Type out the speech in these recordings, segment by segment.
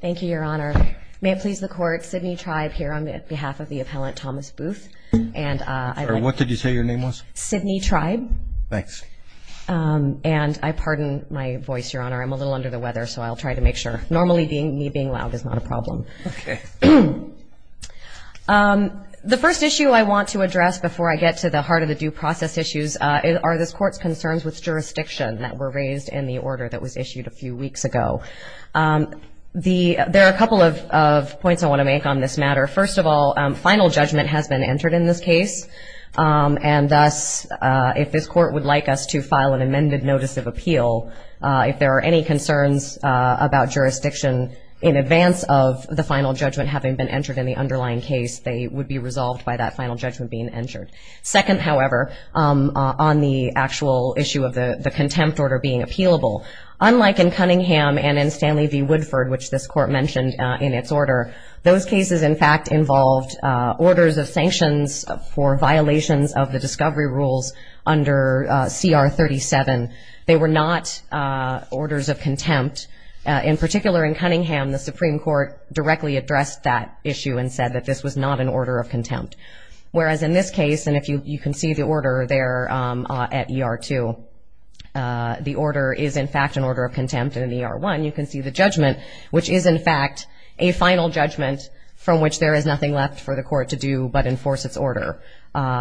Thank you, Your Honor. May it please the Court, Sidney Tribe here on behalf of the appellant Thomas Boothe. What did you say your name was? Sidney Tribe. Thanks. And I pardon my voice, Your Honor. I'm a little under the weather, so I'll try to make sure. Normally me being loud is not a problem. The first issue I want to address before I get to the heart of the due process issues are this Court's concerns with jurisdiction that were raised in the order that was issued a few weeks ago. There are a couple of points I want to make on this matter. First of all, final judgment has been entered in this case, and thus, if this Court would like us to file an amended notice of appeal, if there are any concerns about jurisdiction in advance of the final judgment having been entered in the underlying case, they would be resolved by that final judgment being entered. Second, however, on the actual issue of the contempt order being appealable, unlike in Cunningham and in Stanley v. Woodford, which this Court mentioned in its order, those cases, in fact, involved orders of sanctions for violations of the discovery rules under CR 37. They were not orders of contempt. In particular, in Cunningham, the Supreme Court directly addressed that issue and said that this was not an order of contempt, whereas in this case, and you can see the order there at ER 2, the order is, in fact, an order of contempt, and in ER 1, you can see the judgment, which is, in fact, a final judgment from which there is nothing left for the Court to do but enforce its order.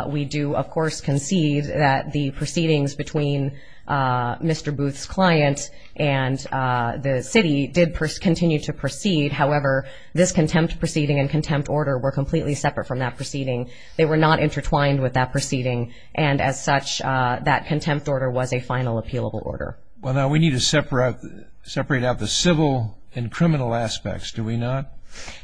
We do, of course, concede that the proceedings between Mr. Booth's client and the city did continue to proceed. However, this contempt proceeding and contempt order were completely separate from that proceeding. They were not intertwined with that proceeding, and as such, that contempt order was a final appealable order. Well, now, we need to separate out the civil and criminal aspects, do we not?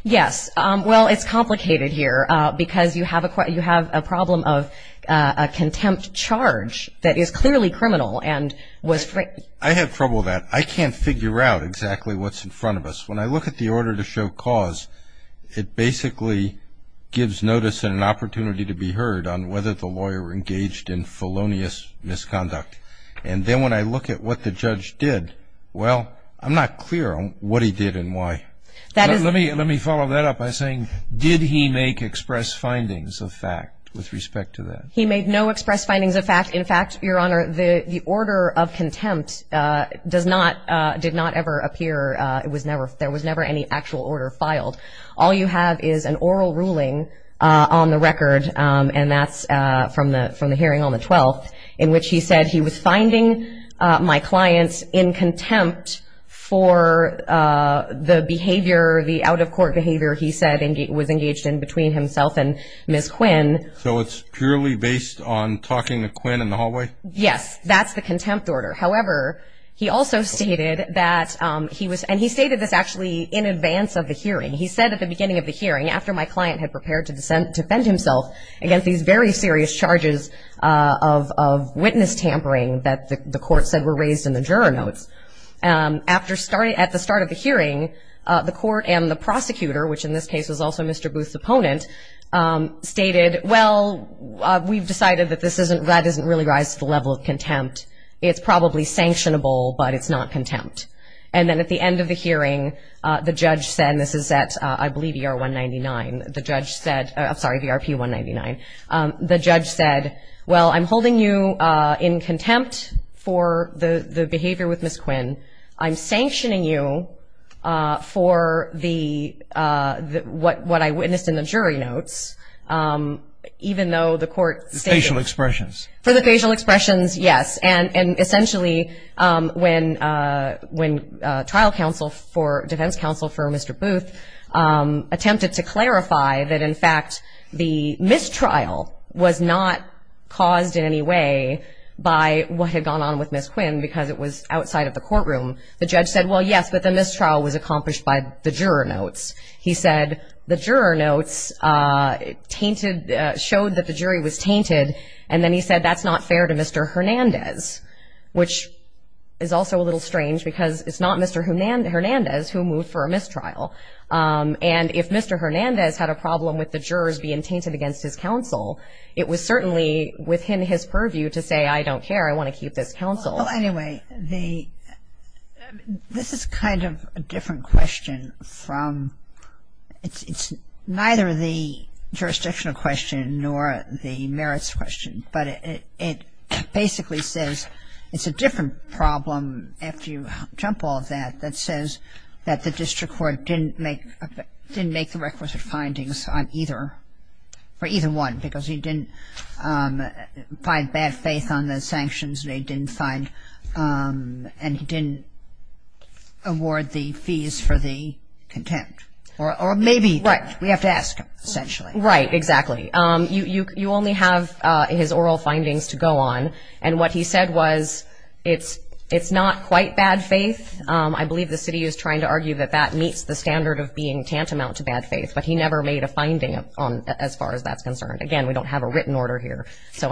Yes. Well, it's complicated here because you have a problem of a contempt charge that is clearly criminal and was framed. I have trouble with that. I can't figure out exactly what's in front of us. When I look at the order to show cause, it basically gives notice and an opportunity to be heard on whether the lawyer engaged in felonious misconduct. And then when I look at what the judge did, well, I'm not clear on what he did and why. Let me follow that up by saying, did he make express findings of fact with respect to that? He made no express findings of fact. In fact, Your Honor, the order of contempt did not ever appear. There was never any actual order filed. All you have is an oral ruling on the record, and that's from the hearing on the 12th, in which he said he was finding my clients in contempt for the behavior, the out-of-court behavior he said was engaged in between himself and Ms. Quinn. So it's purely based on talking to Quinn in the hallway? Yes. That's the contempt order. However, he also stated that he was and he stated this actually in advance of the hearing. He said at the beginning of the hearing, after my client had prepared to defend himself against these very serious charges of witness tampering that the court said were raised in the juror notes, at the start of the hearing, the court and the prosecutor, which in this case was also Mr. Booth's opponent, stated, well, we've decided that this isn't, that doesn't really rise to the level of contempt. It's probably sanctionable, but it's not contempt. And then at the end of the hearing, the judge said, and this is at, I believe, ER 199, the judge said well, I'm holding you in contempt for the behavior with Ms. Quinn. I'm sanctioning you for the what I witnessed in the jury notes, even though the court The facial expressions. For the facial expressions, yes. And essentially when trial counsel for defense counsel for Mr. Booth attempted to clarify that in fact the mistrial was not caused in any way by what had gone on with Ms. Quinn because it was outside of the courtroom, the judge said, well, yes, but the mistrial was accomplished by the juror notes. He said the juror notes tainted, showed that the jury was tainted. And then he said that's not fair to Mr. Hernandez, which is also a little And if Mr. Hernandez had a problem with the jurors being tainted against his counsel, it was certainly within his purview to say I don't care, I want to keep this counsel. Anyway, this is kind of a different question from, it's neither the jurisdictional question nor the merits question, but it basically says it's a different problem after you jump all of that that says that the district court didn't make the requisite findings on either, for either one because he didn't find bad faith on the sanctions and he didn't find, and he didn't award the fees for the contempt. Or maybe, we have to ask essentially. Right, exactly. You only have his oral findings to go on. And what he said was it's not quite bad faith. I believe the city is trying to argue that that meets the standard of being tantamount to bad faith, but he never made a finding as far as that's concerned. Again, we don't have a written order here. So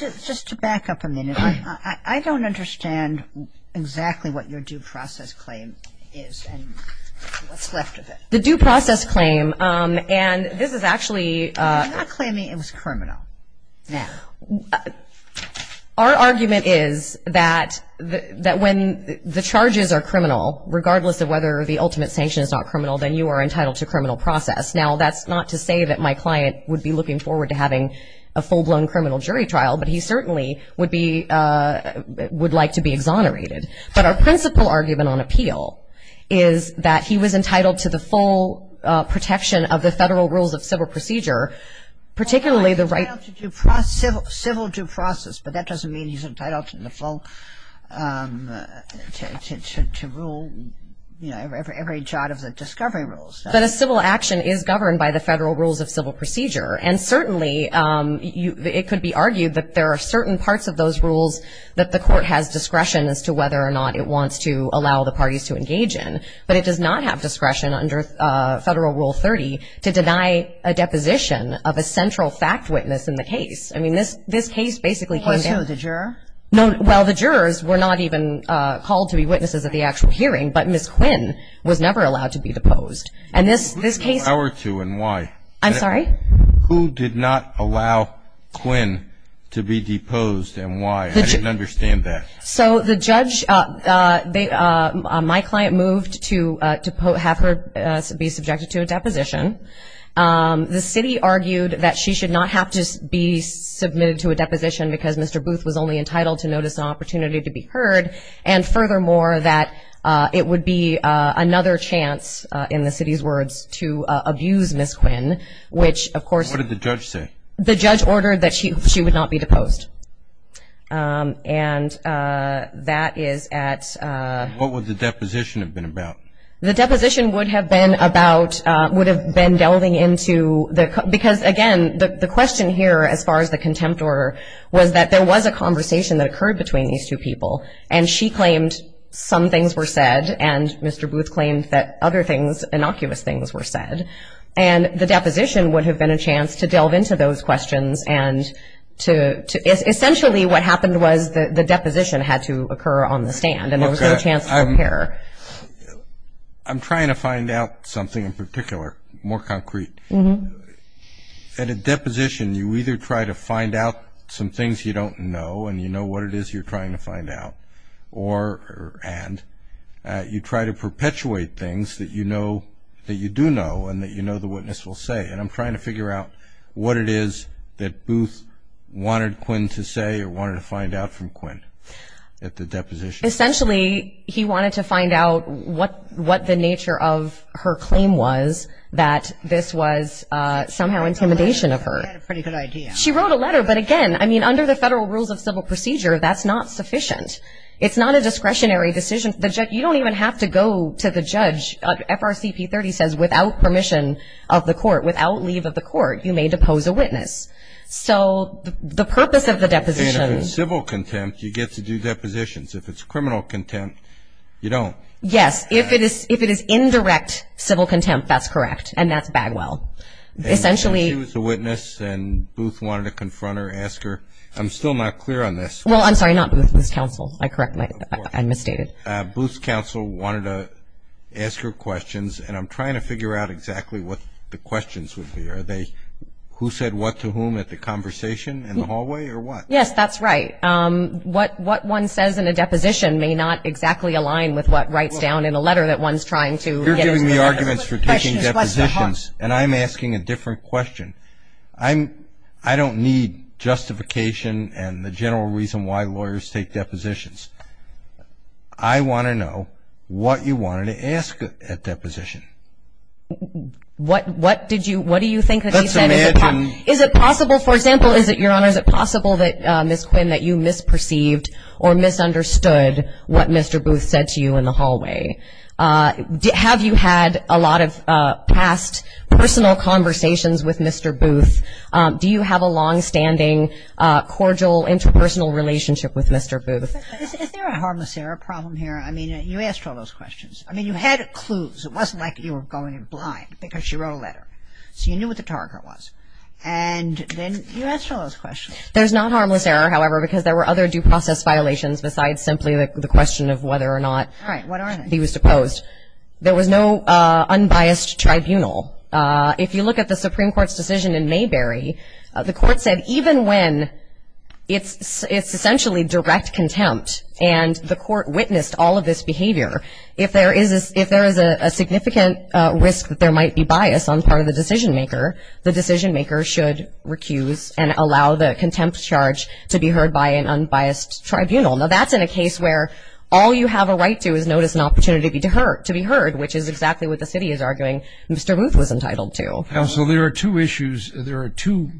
just to back up a minute, I don't understand exactly what your due process claim is and what's left of it. The due process claim, and this is actually. I'm not claiming it was criminal. Our argument is that when the charges are criminal, regardless of whether the ultimate sanction is not criminal, then you are entitled to criminal process. Now, that's not to say that my client would be looking forward to having a full-blown criminal jury trial, but he certainly would like to be exonerated. But our principal argument on appeal is that he was entitled to the full protection of the Federal Rules of Civil Procedure, particularly the right. Civil due process, but that doesn't mean he's entitled to rule every chart of the discovery rules. But a civil action is governed by the Federal Rules of Civil Procedure, and certainly it could be argued that there are certain parts of those rules that the court has discretion as to whether or not it wants to allow the parties to engage in. But it does not have discretion under Federal Rule 30 to deny a deposition of a central fact witness in the case. I mean, this case basically came down. I'm sorry? Who did not allow Quinn to be deposed, and why? I didn't understand that. So the judge, my client moved to have her be subjected to a deposition. The city argued that she should not have to be submitted to a deposition because Mr. Booth was only entitled to notice an opportunity to be heard, and furthermore, that it would be another chance, in the city's words, to abuse Ms. Quinn, which of course. What did the judge say? The judge ordered that she would not be deposed. And that is at. What would the deposition have been about? The deposition would have been about, would have been about delving into the, because again, the question here as far as the contempt order was that there was a conversation that occurred between these two people, and she claimed some things were said, and Mr. Booth claimed that other things, innocuous things were said. And the deposition would have been a chance to delve into those questions and to essentially what happened was the deposition had to occur on the stand, and there was no chance to compare. I'm trying to find out something in particular, more concrete. At a deposition, you either try to find out some things you don't know, and you know what it is you're trying to find out, or, and, you try to perpetuate things that you know, that you do know, and that you know the witness will say. And I'm trying to figure out what it is that Booth wanted Quinn to say or wanted to find out from Quinn at the deposition. Essentially, he wanted to find out what the nature of her claim was, that this was somehow intimidation of her. She had a pretty good idea. She wrote a letter, but again, I mean, under the Federal Rules of Civil Procedure, that's not sufficient. It's not a discretionary decision. You don't even have to go to the judge. FRCP 30 says without permission of the court, without leave of the court, you may depose a witness. So, the purpose of the deposition. And if it's civil contempt, you get to do depositions. If it's criminal contempt, you don't. Yes. If it is indirect civil contempt, that's correct. And that's Bagwell. Essentially. And she was a witness, and Booth wanted to confront her, ask her, I'm still not clear on this. Well, I'm sorry, not Booth, Booth's counsel. I correct my, I misstated. Booth's counsel wanted to ask her questions, and I'm trying to figure out exactly what the questions would be. Are they who said what to whom at the conversation in the hallway, or what? Yes, that's right. What one says in a deposition may not exactly align with what writes down in a letter that one's trying to get. You're giving me arguments for taking depositions, and I'm asking a different question. I don't need justification and the general reason why lawyers take depositions. I want to know what you wanted to ask at deposition. What, what did you, what do you think that she said? Let's imagine. Is it possible, for example, is it, Your Honor, is it possible that, Ms. Quinn, that you misperceived or misunderstood what Mr. Booth said to you in the hallway? Have you had a lot of past personal conversations with Mr. Booth? Do you have a longstanding, cordial, interpersonal relationship with Mr. Booth? Is there a harmless error problem here? I mean, you asked all those questions. I mean, you had clues. It wasn't like you were going blind because she wrote a letter. So you knew what the target was, and then you asked all those questions. There's not harmless error, however, because there were other due process violations besides simply the question of whether or not he was supposed. All right. What are they? There was no unbiased tribunal. If you look at the Supreme Court's decision in Mayberry, the court said even when it's essentially direct contempt and the court witnessed all of this behavior, if there is a significant risk that there might be bias on the part of the decision maker, the decision maker should recuse and allow the contempt charge to be heard by an unbiased tribunal. Now, that's in a case where all you have a right to is notice and opportunity to be heard, which is exactly what the city is arguing Mr. Booth was entitled to. Counsel, there are two issues. There are two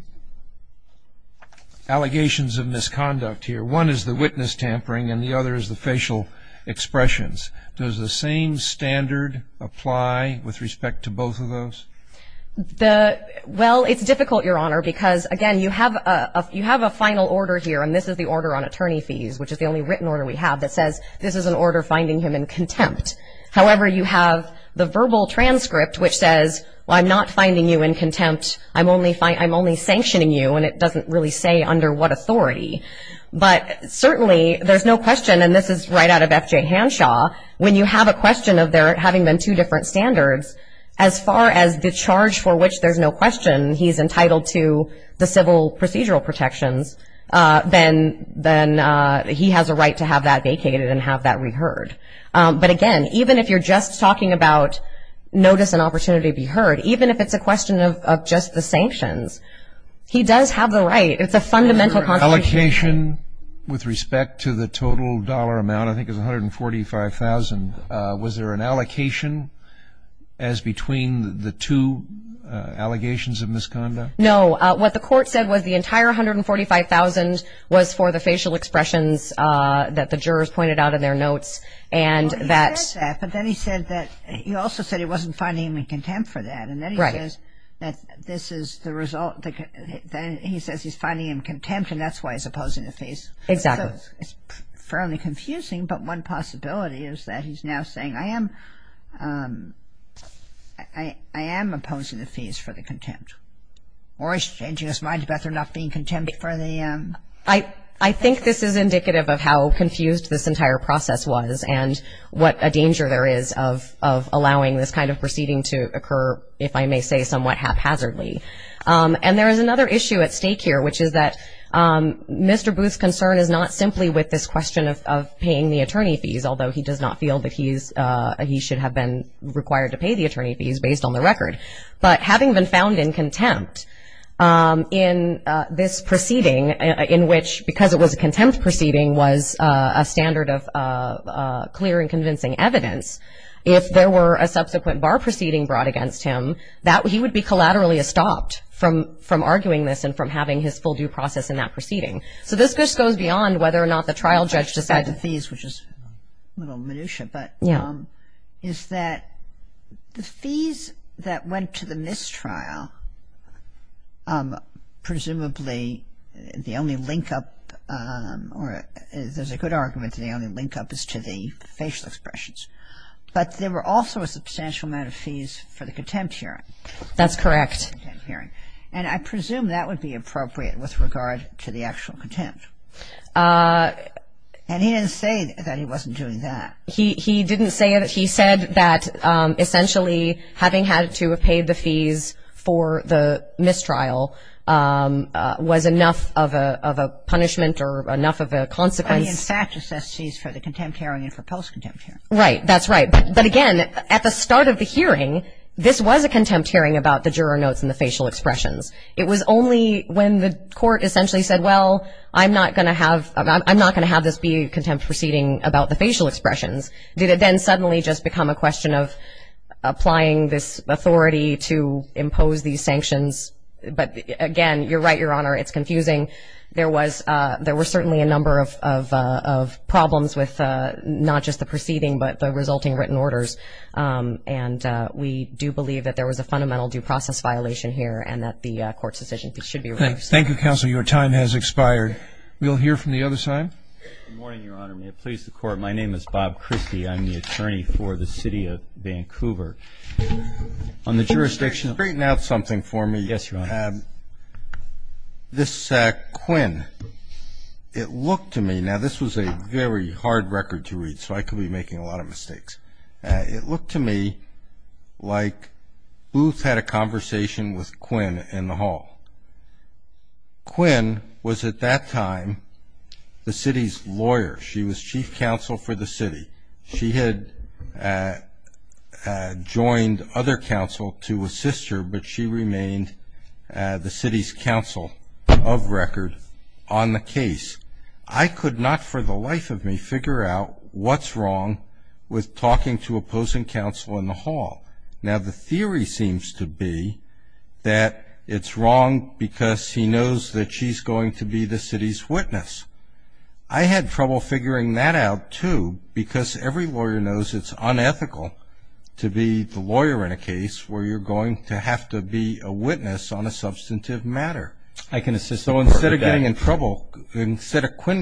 allegations of misconduct here. One is the witness tampering, and the other is the facial expressions. Does the same standard apply with respect to both of those? Well, it's difficult, Your Honor, because, again, you have a final order here, and this is the order on attorney fees, which is the only written order we have, that says this is an order finding him in contempt. However, you have the verbal transcript, which says, well, I'm not finding you in contempt. I'm only sanctioning you, and it doesn't really say under what authority. But certainly there's no question, and this is right out of F.J. Hanshaw, when you have a question of there having been two different standards, as far as the charge for which there's no question he's entitled to the civil procedural protections, then he has a right to have that vacated and have that reheard. But, again, even if you're just talking about notice and opportunity to be heard, even if it's a question of just the sanctions, he does have the right. It's a fundamental constitutional right. Was there an allocation with respect to the total dollar amount? I think it was $145,000. Was there an allocation as between the two allegations of misconduct? No. What the court said was the entire $145,000 was for the facial expressions that the jurors pointed out in their notes. Well, he said that, but then he also said he wasn't finding him in contempt for that. Right. And then he says he's finding him contempt, and that's why he's opposing the fees. Exactly. So it's fairly confusing, but one possibility is that he's now saying, I am opposing the fees for the contempt. Or he's changing his mind about there not being contempt for the fees. I think this is indicative of how confused this entire process was and what a danger there is of allowing this kind of proceeding to occur, if I may say somewhat haphazardly. And there is another issue at stake here, which is that Mr. Booth's concern is not simply with this question of paying the attorney fees, although he does not feel that he should have been required to pay the attorney fees, based on the record. But having been found in contempt in this proceeding in which, because it was a contempt proceeding, was a standard of clear and convincing evidence, if there were a subsequent bar proceeding brought against him, he would be collaterally stopped from arguing this and from having his full due process in that proceeding. So this goes beyond whether or not the trial judge decided the fees, which is a little minutiae, but is that the fees that went to the mistrial, presumably the only link up, or there's a good argument that the only link up is to the facial expressions. But there were also a substantial amount of fees for the contempt hearing. That's correct. And I presume that would be appropriate with regard to the actual contempt. And he didn't say that he wasn't doing that. He didn't say that. He said that essentially having had to have paid the fees for the mistrial was enough of a punishment or enough of a consequence. I mean, in fact, it says fees for the contempt hearing and for post-contempt hearing. Right. That's right. But, again, at the start of the hearing, this was a contempt hearing about the juror notes and the facial expressions. It was only when the court essentially said, well, I'm not going to have this be a contempt proceeding about the facial expressions, did it then suddenly just become a question of applying this authority to impose these sanctions. But, again, you're right, Your Honor, it's confusing. There were certainly a number of problems with not just the proceeding but the resulting written orders. And we do believe that there was a fundamental due process violation here and that the court's decision should be released. Thank you, Counsel. Your time has expired. We'll hear from the other side. Good morning, Your Honor. May it please the Court. My name is Bob Christie. I'm the attorney for the City of Vancouver. On the jurisdiction of the court. Can you straighten out something for me? Yes, Your Honor. This Quinn, it looked to me, now this was a very hard record to read, so I could be making a lot of mistakes. It looked to me like Booth had a conversation with Quinn in the hall. Quinn was at that time the city's lawyer. She was chief counsel for the city. She had joined other counsel to assist her, but she remained the city's counsel of record on the case. I could not for the life of me figure out what's wrong with talking to opposing counsel in the hall. Now, the theory seems to be that it's wrong because he knows that she's going to be the city's witness. I had trouble figuring that out, too, because every lawyer knows it's unethical to be the lawyer in a case where you're going to have to be a witness on a substantive matter. So instead of Quinn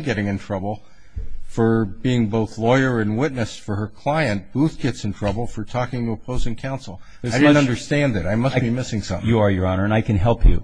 getting in trouble for being both lawyer and witness for her client, Booth gets in trouble for talking to opposing counsel. I didn't understand it. I must be missing something. You are, Your Honor, and I can help you.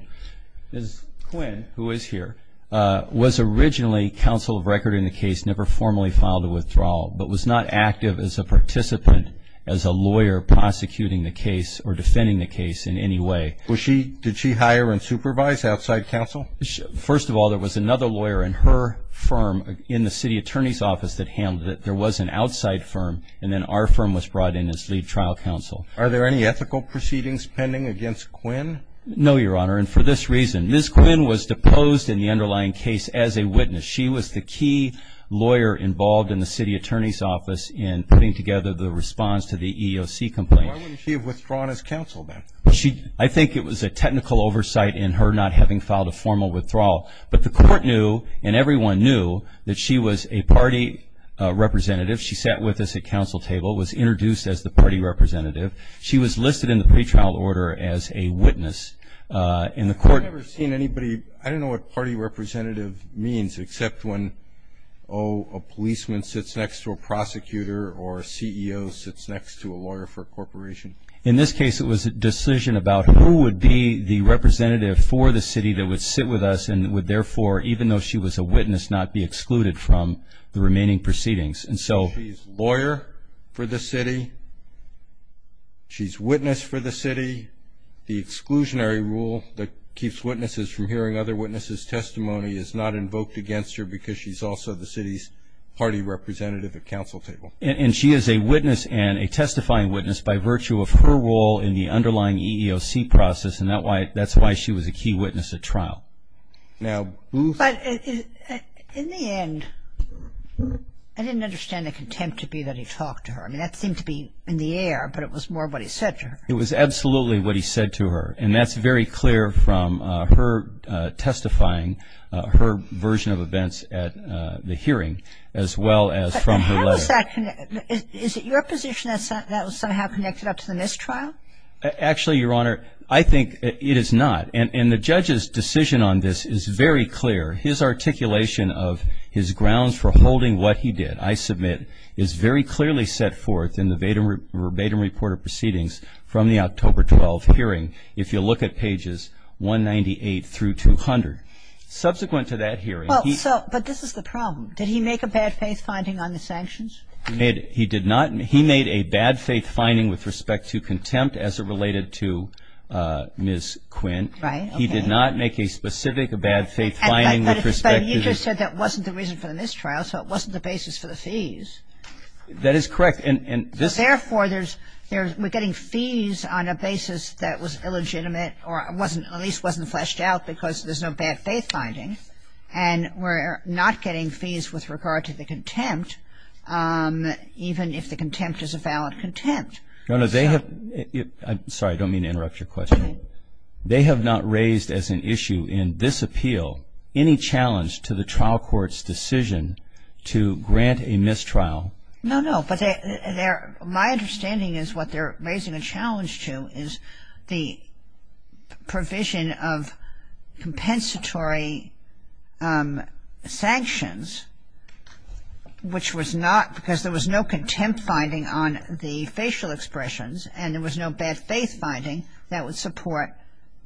Quinn, who is here, was originally counsel of record in the case, never formally filed a withdrawal, but was not active as a participant, as a lawyer prosecuting the case or defending the case in any way. Did she hire and supervise outside counsel? First of all, there was another lawyer in her firm in the city attorney's office that handled it. There was an outside firm, and then our firm was brought in as lead trial counsel. Are there any ethical proceedings pending against Quinn? No, Your Honor, and for this reason. Ms. Quinn was deposed in the underlying case as a witness. She was the key lawyer involved in the city attorney's office in putting together the response to the EEOC complaint. Why wouldn't she have withdrawn as counsel, then? I think it was a technical oversight in her not having filed a formal withdrawal, but the court knew and everyone knew that she was a party representative. She sat with us at counsel table, was introduced as the party representative. She was listed in the pretrial order as a witness in the court. I've never seen anybody. I don't know what party representative means except when, oh, a policeman sits next to a prosecutor or a CEO sits next to a lawyer for a corporation. In this case, it was a decision about who would be the representative for the city that would sit with us and would therefore, even though she was a witness, not be excluded from the remaining proceedings. So she's lawyer for the city. She's witness for the city. The exclusionary rule that keeps witnesses from hearing other witnesses' testimony is not invoked against her because she's also the city's party representative at counsel table. And she is a witness and a testifying witness by virtue of her role in the underlying EEOC process and that's why she was a key witness at trial. But in the end, I didn't understand the contempt to be that he talked to her. I mean, that seemed to be in the air, but it was more what he said to her. It was absolutely what he said to her, and that's very clear from her testifying, her version of events at the hearing, as well as from her letter. Kagan. Is it your position that that was somehow connected up to the mistrial? Actually, Your Honor, I think it is not. And the judge's decision on this is very clear. His articulation of his grounds for holding what he did, I submit, is very clearly set forth in the Vadum Report of Proceedings from the October 12 hearing, if you look at pages 198 through 200. Subsequent to that hearing, he ---- He made a bad faith finding with respect to contempt as it related to Ms. Quinn. Right. He did not make a specific bad faith finding with respect to ---- But you just said that wasn't the reason for the mistrial, so it wasn't the basis for the fees. That is correct, and this ---- Therefore, we're getting fees on a basis that was illegitimate or at least wasn't fleshed out because there's no bad faith finding, and we're not getting fees with regard to the contempt, even if the contempt is a valid contempt. Your Honor, they have ---- I'm sorry. I don't mean to interrupt your question. Okay. They have not raised as an issue in this appeal any challenge to the trial court's decision to grant a mistrial. No, no. My understanding is what they're raising a challenge to is the provision of compensatory sanctions, which was not because there was no contempt finding on the facial expressions and there was no bad faith finding that would support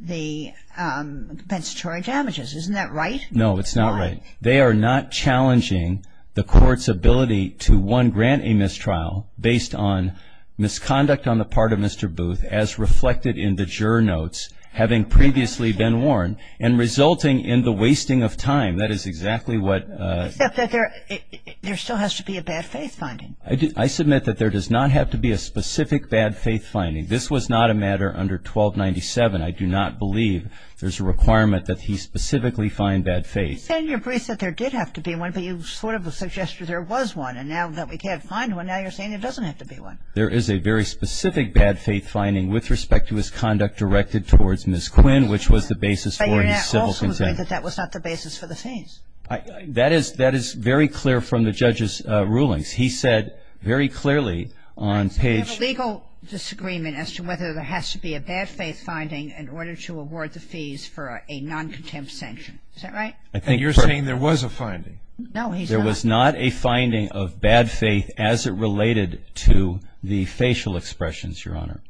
the compensatory damages. Isn't that right? No, it's not right. Why? Because of the court's ability to, one, grant a mistrial based on misconduct on the part of Mr. Booth as reflected in the juror notes having previously been warned and resulting in the wasting of time. That is exactly what ---- Except that there still has to be a bad faith finding. I submit that there does not have to be a specific bad faith finding. This was not a matter under 1297. I do not believe there's a requirement that he specifically find bad faith. You said in your brief that there did have to be one, but you sort of suggested there was one. And now that we can't find one, now you're saying there doesn't have to be one. There is a very specific bad faith finding with respect to his conduct directed towards Ms. Quinn, which was the basis for his civil contempt. But you're now also saying that that was not the basis for the fees. That is very clear from the judge's rulings. He said very clearly on page ---- So you have a legal disagreement as to whether there has to be a bad faith finding in order to award the fees for a noncontempt sanction. Is that right? And you're saying there was a finding. No, he's not. There was not a finding of bad faith as it related to the facial expressions, Your Honor.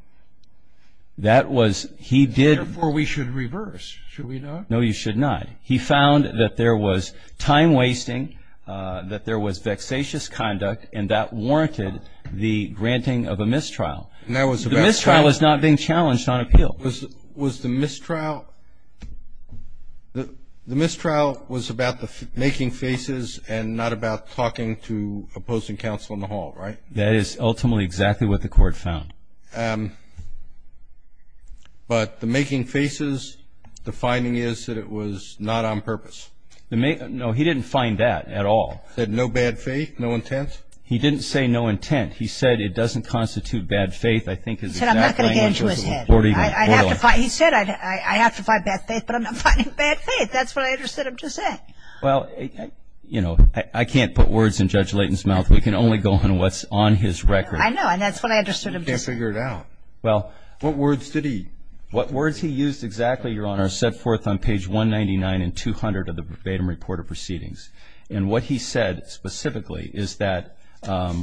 That was ---- Therefore, we should reverse. Should we not? No, you should not. He found that there was time wasting, that there was vexatious conduct, and that warranted the granting of a mistrial. The mistrial was not being challenged on appeal. Was the mistrial ---- The mistrial was about the making faces and not about talking to opposing counsel in the hall, right? That is ultimately exactly what the Court found. But the making faces, the finding is that it was not on purpose. No, he didn't find that at all. Said no bad faith, no intent? He didn't say no intent. He said it doesn't constitute bad faith. I think is exactly ---- He said I have to find bad faith, but I'm not finding bad faith. That's what I understood him to say. Well, you know, I can't put words in Judge Layton's mouth. We can only go on what's on his record. I know, and that's what I understood him to say. You can't figure it out. Well, what words did he ---- What words he used exactly, Your Honor, set forth on page 199 and 200 of the verbatim report of proceedings. And what he said specifically is that, as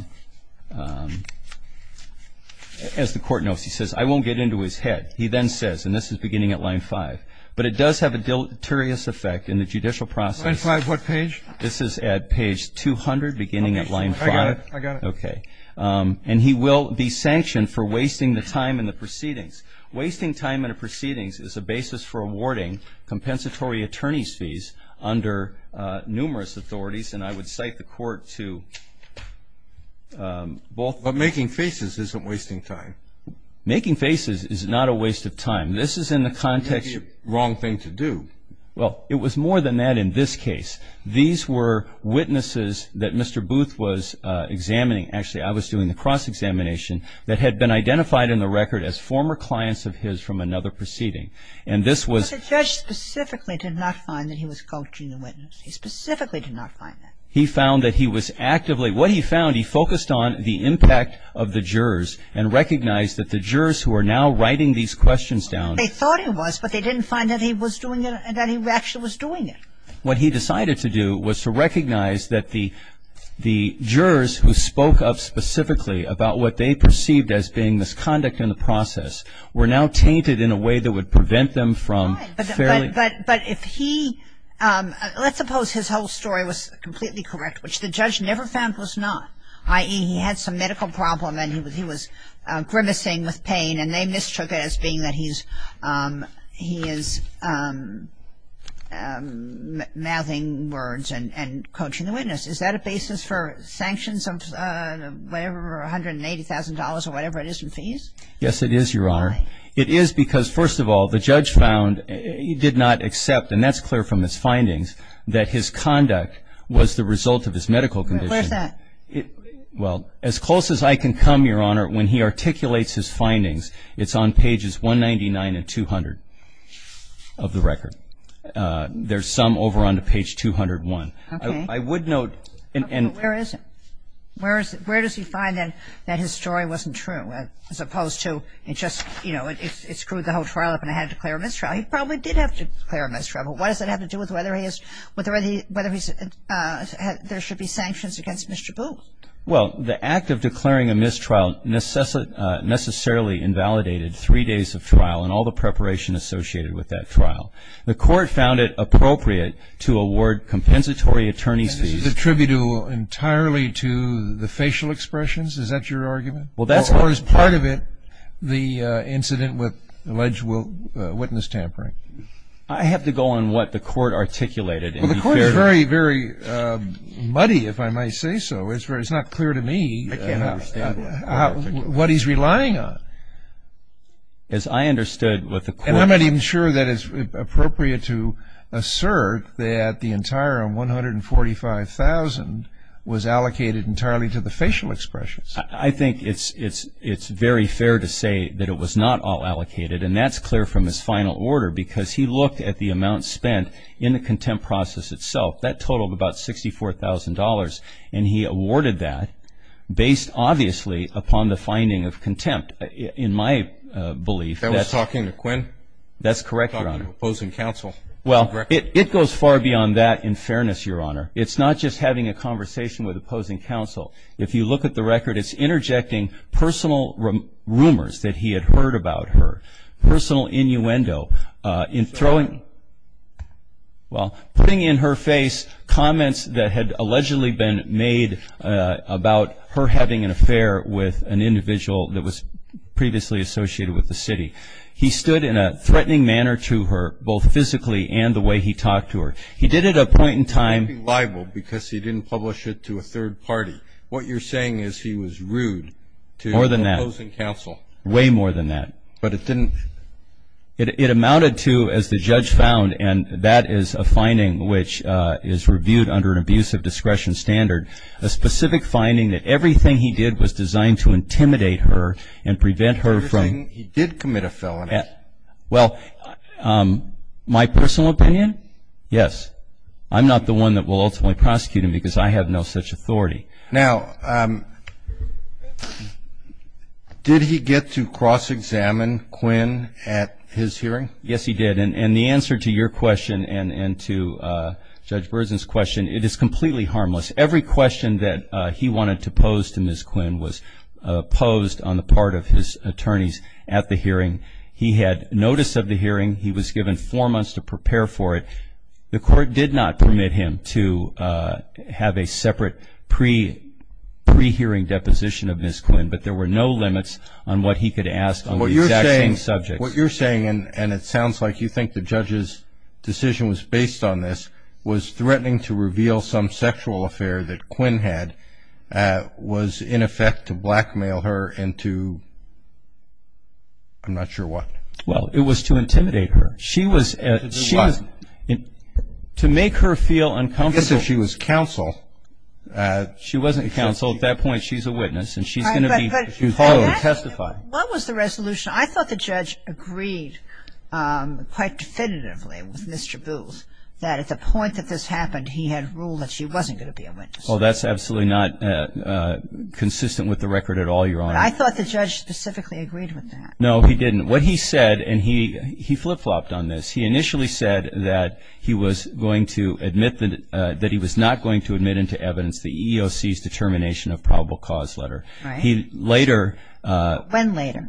the Court knows, he says, I won't get into his head. He then says, and this is beginning at line 5, but it does have a deleterious effect in the judicial process. Line 5 what page? This is at page 200 beginning at line 5. I got it. Okay. And he will be sanctioned for wasting the time in the proceedings. Wasting time in a proceedings is a basis for awarding compensatory attorney's fees under numerous authorities, and I would cite the Court to both ---- But making faces isn't wasting time. Making faces is not a waste of time. This is in the context of ---- That would be a wrong thing to do. Well, it was more than that in this case. These were witnesses that Mr. Booth was examining. Actually, I was doing the cross-examination that had been identified in the record as former clients of his from another proceeding. And this was ---- But the judge specifically did not find that he was coaching the witness. He specifically did not find that. He found that he was actively ---- They thought he was, but they didn't find that he was doing it and that he actually was doing it. What he decided to do was to recognize that the jurors who spoke up specifically about what they perceived as being misconduct in the process were now tainted in a way that would prevent them from fairly ---- But if he ---- let's suppose his whole story was completely correct, which the judge never found was not, i.e., he had some medical problem and he was grimacing with pain and they mistook it as being that he is mouthing words and coaching the witness. Is that a basis for sanctions of whatever, $180,000 or whatever it is in fees? Yes, it is, Your Honor. Why? It is because, first of all, the judge found he did not accept, and that's clear from his findings, that his conduct was the result of his medical condition. Where's that? Well, as close as I can come, Your Honor, when he articulates his findings, it's on pages 199 and 200 of the record. There's some over on to page 201. Okay. I would note and ---- Where is it? Where does he find that his story wasn't true as opposed to it just, you know, it screwed the whole trial up and I had to declare a mistrial. He probably did have to declare a mistrial, but what does that have to do with whether there should be sanctions against Mr. Booth? Well, the act of declaring a mistrial necessarily invalidated three days of trial and all the preparation associated with that trial. The court found it appropriate to award compensatory attorney's fees. And this is attributable entirely to the facial expressions? Is that your argument? Well, that's what ---- Or is part of it the incident with alleged witness tampering? I have to go on what the court articulated. Well, the court is very, very muddy, if I might say so. It's not clear to me what he's relying on. As I understood what the court ---- And I'm not even sure that it's appropriate to assert that the entire 145,000 was allocated entirely to the facial expressions. I think it's very fair to say that it was not all allocated, and that's clear from his final order, because he looked at the amount spent in the contempt process itself. That totaled about $64,000, and he awarded that based obviously upon the finding of contempt. In my belief, that's ---- That was talking to Quinn? That's correct, Your Honor. Talking to opposing counsel. Well, it goes far beyond that in fairness, Your Honor. It's not just having a conversation with opposing counsel. If you look at the record, it's interjecting personal rumors that he had heard about her, personal innuendo in throwing ---- well, putting in her face comments that had allegedly been made about her having an affair with an individual that was previously associated with the city. He stood in a threatening manner to her, both physically and the way he talked to her. He did it at a point in time ---- What you're saying is he was rude to opposing counsel. More than that. Way more than that. But it didn't ---- It amounted to, as the judge found, and that is a finding which is reviewed under an abusive discretion standard, a specific finding that everything he did was designed to intimidate her and prevent her from ---- Everything he did commit a felony. Well, my personal opinion, yes. I'm not the one that will ultimately prosecute him because I have no such authority. Now, did he get to cross-examine Quinn at his hearing? Yes, he did. And the answer to your question and to Judge Berzin's question, it is completely harmless. Every question that he wanted to pose to Ms. Quinn was posed on the part of his attorneys at the hearing. He had notice of the hearing. He was given four months to prepare for it. The court did not permit him to have a separate pre-hearing deposition of Ms. Quinn, but there were no limits on what he could ask on the exact same subject. What you're saying, and it sounds like you think the judge's decision was based on this, was threatening to reveal some sexual affair that Quinn had was in effect to blackmail her and to ---- I'm not sure what. Well, it was to intimidate her. To do what? To make her feel uncomfortable. I guess if she was counsel. She wasn't counsel. At that point, she's a witness, and she's going to be told to testify. What was the resolution? I thought the judge agreed quite definitively with Mr. Booth that at the point that this happened, he had ruled that she wasn't going to be a witness. Oh, that's absolutely not consistent with the record at all, Your Honor. I thought the judge specifically agreed with that. No, he didn't. What he said, and he flip-flopped on this, he initially said that he was going to admit that he was not going to admit into evidence the EEOC's determination of probable cause letter. Right. He later ---- When later?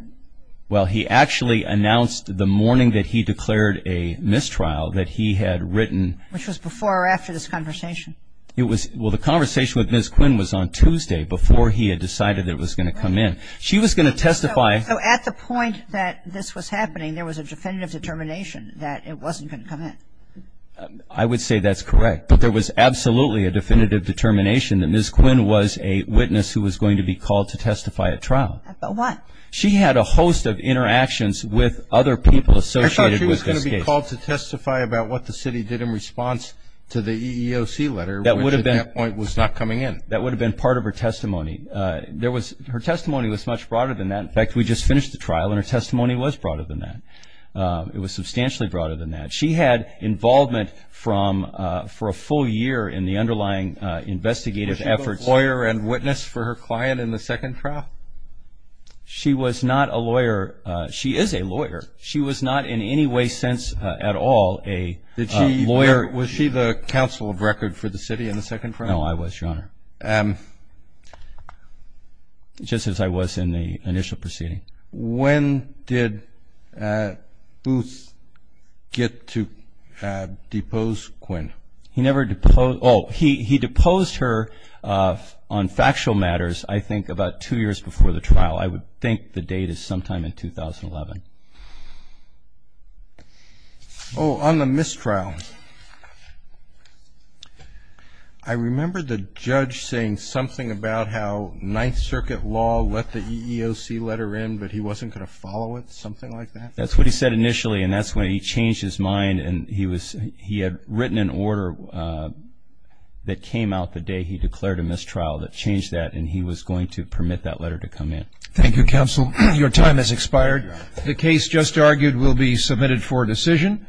Well, he actually announced the morning that he declared a mistrial that he had written ---- Which was before or after this conversation? Well, the conversation with Ms. Quinn was on Tuesday before he had decided it was going to come in. She was going to testify ---- So at the point that this was happening, there was a definitive determination that it wasn't going to come in. I would say that's correct. But there was absolutely a definitive determination that Ms. Quinn was a witness who was going to be called to testify at trial. About what? She had a host of interactions with other people associated with this case. I thought she was going to be called to testify about what the city did in response to the EEOC letter, which at that point was not coming in. That would have been part of her testimony. There was ---- her testimony was much broader than that. In fact, we just finished the trial and her testimony was broader than that. It was substantially broader than that. She had involvement for a full year in the underlying investigative efforts. Was she a lawyer and witness for her client in the second trial? She was not a lawyer. She is a lawyer. She was not in any way, sense at all, a lawyer. Was she the counsel of record for the city in the second trial? No, I was, Your Honor. Just as I was in the initial proceeding. When did Booth get to depose Quinn? He never deposed her. Oh, he deposed her on factual matters, I think, about two years before the trial. I would think the date is sometime in 2011. Oh, on the mistrial. I remember the judge saying something about how Ninth Circuit law let the EEOC letter in, but he wasn't going to follow it, something like that? That's what he said initially, and that's when he changed his mind, and he had written an order that came out the day he declared a mistrial that changed that, and he was going to permit that letter to come in. Thank you, counsel. Your time has expired. The case just argued will be submitted for decision.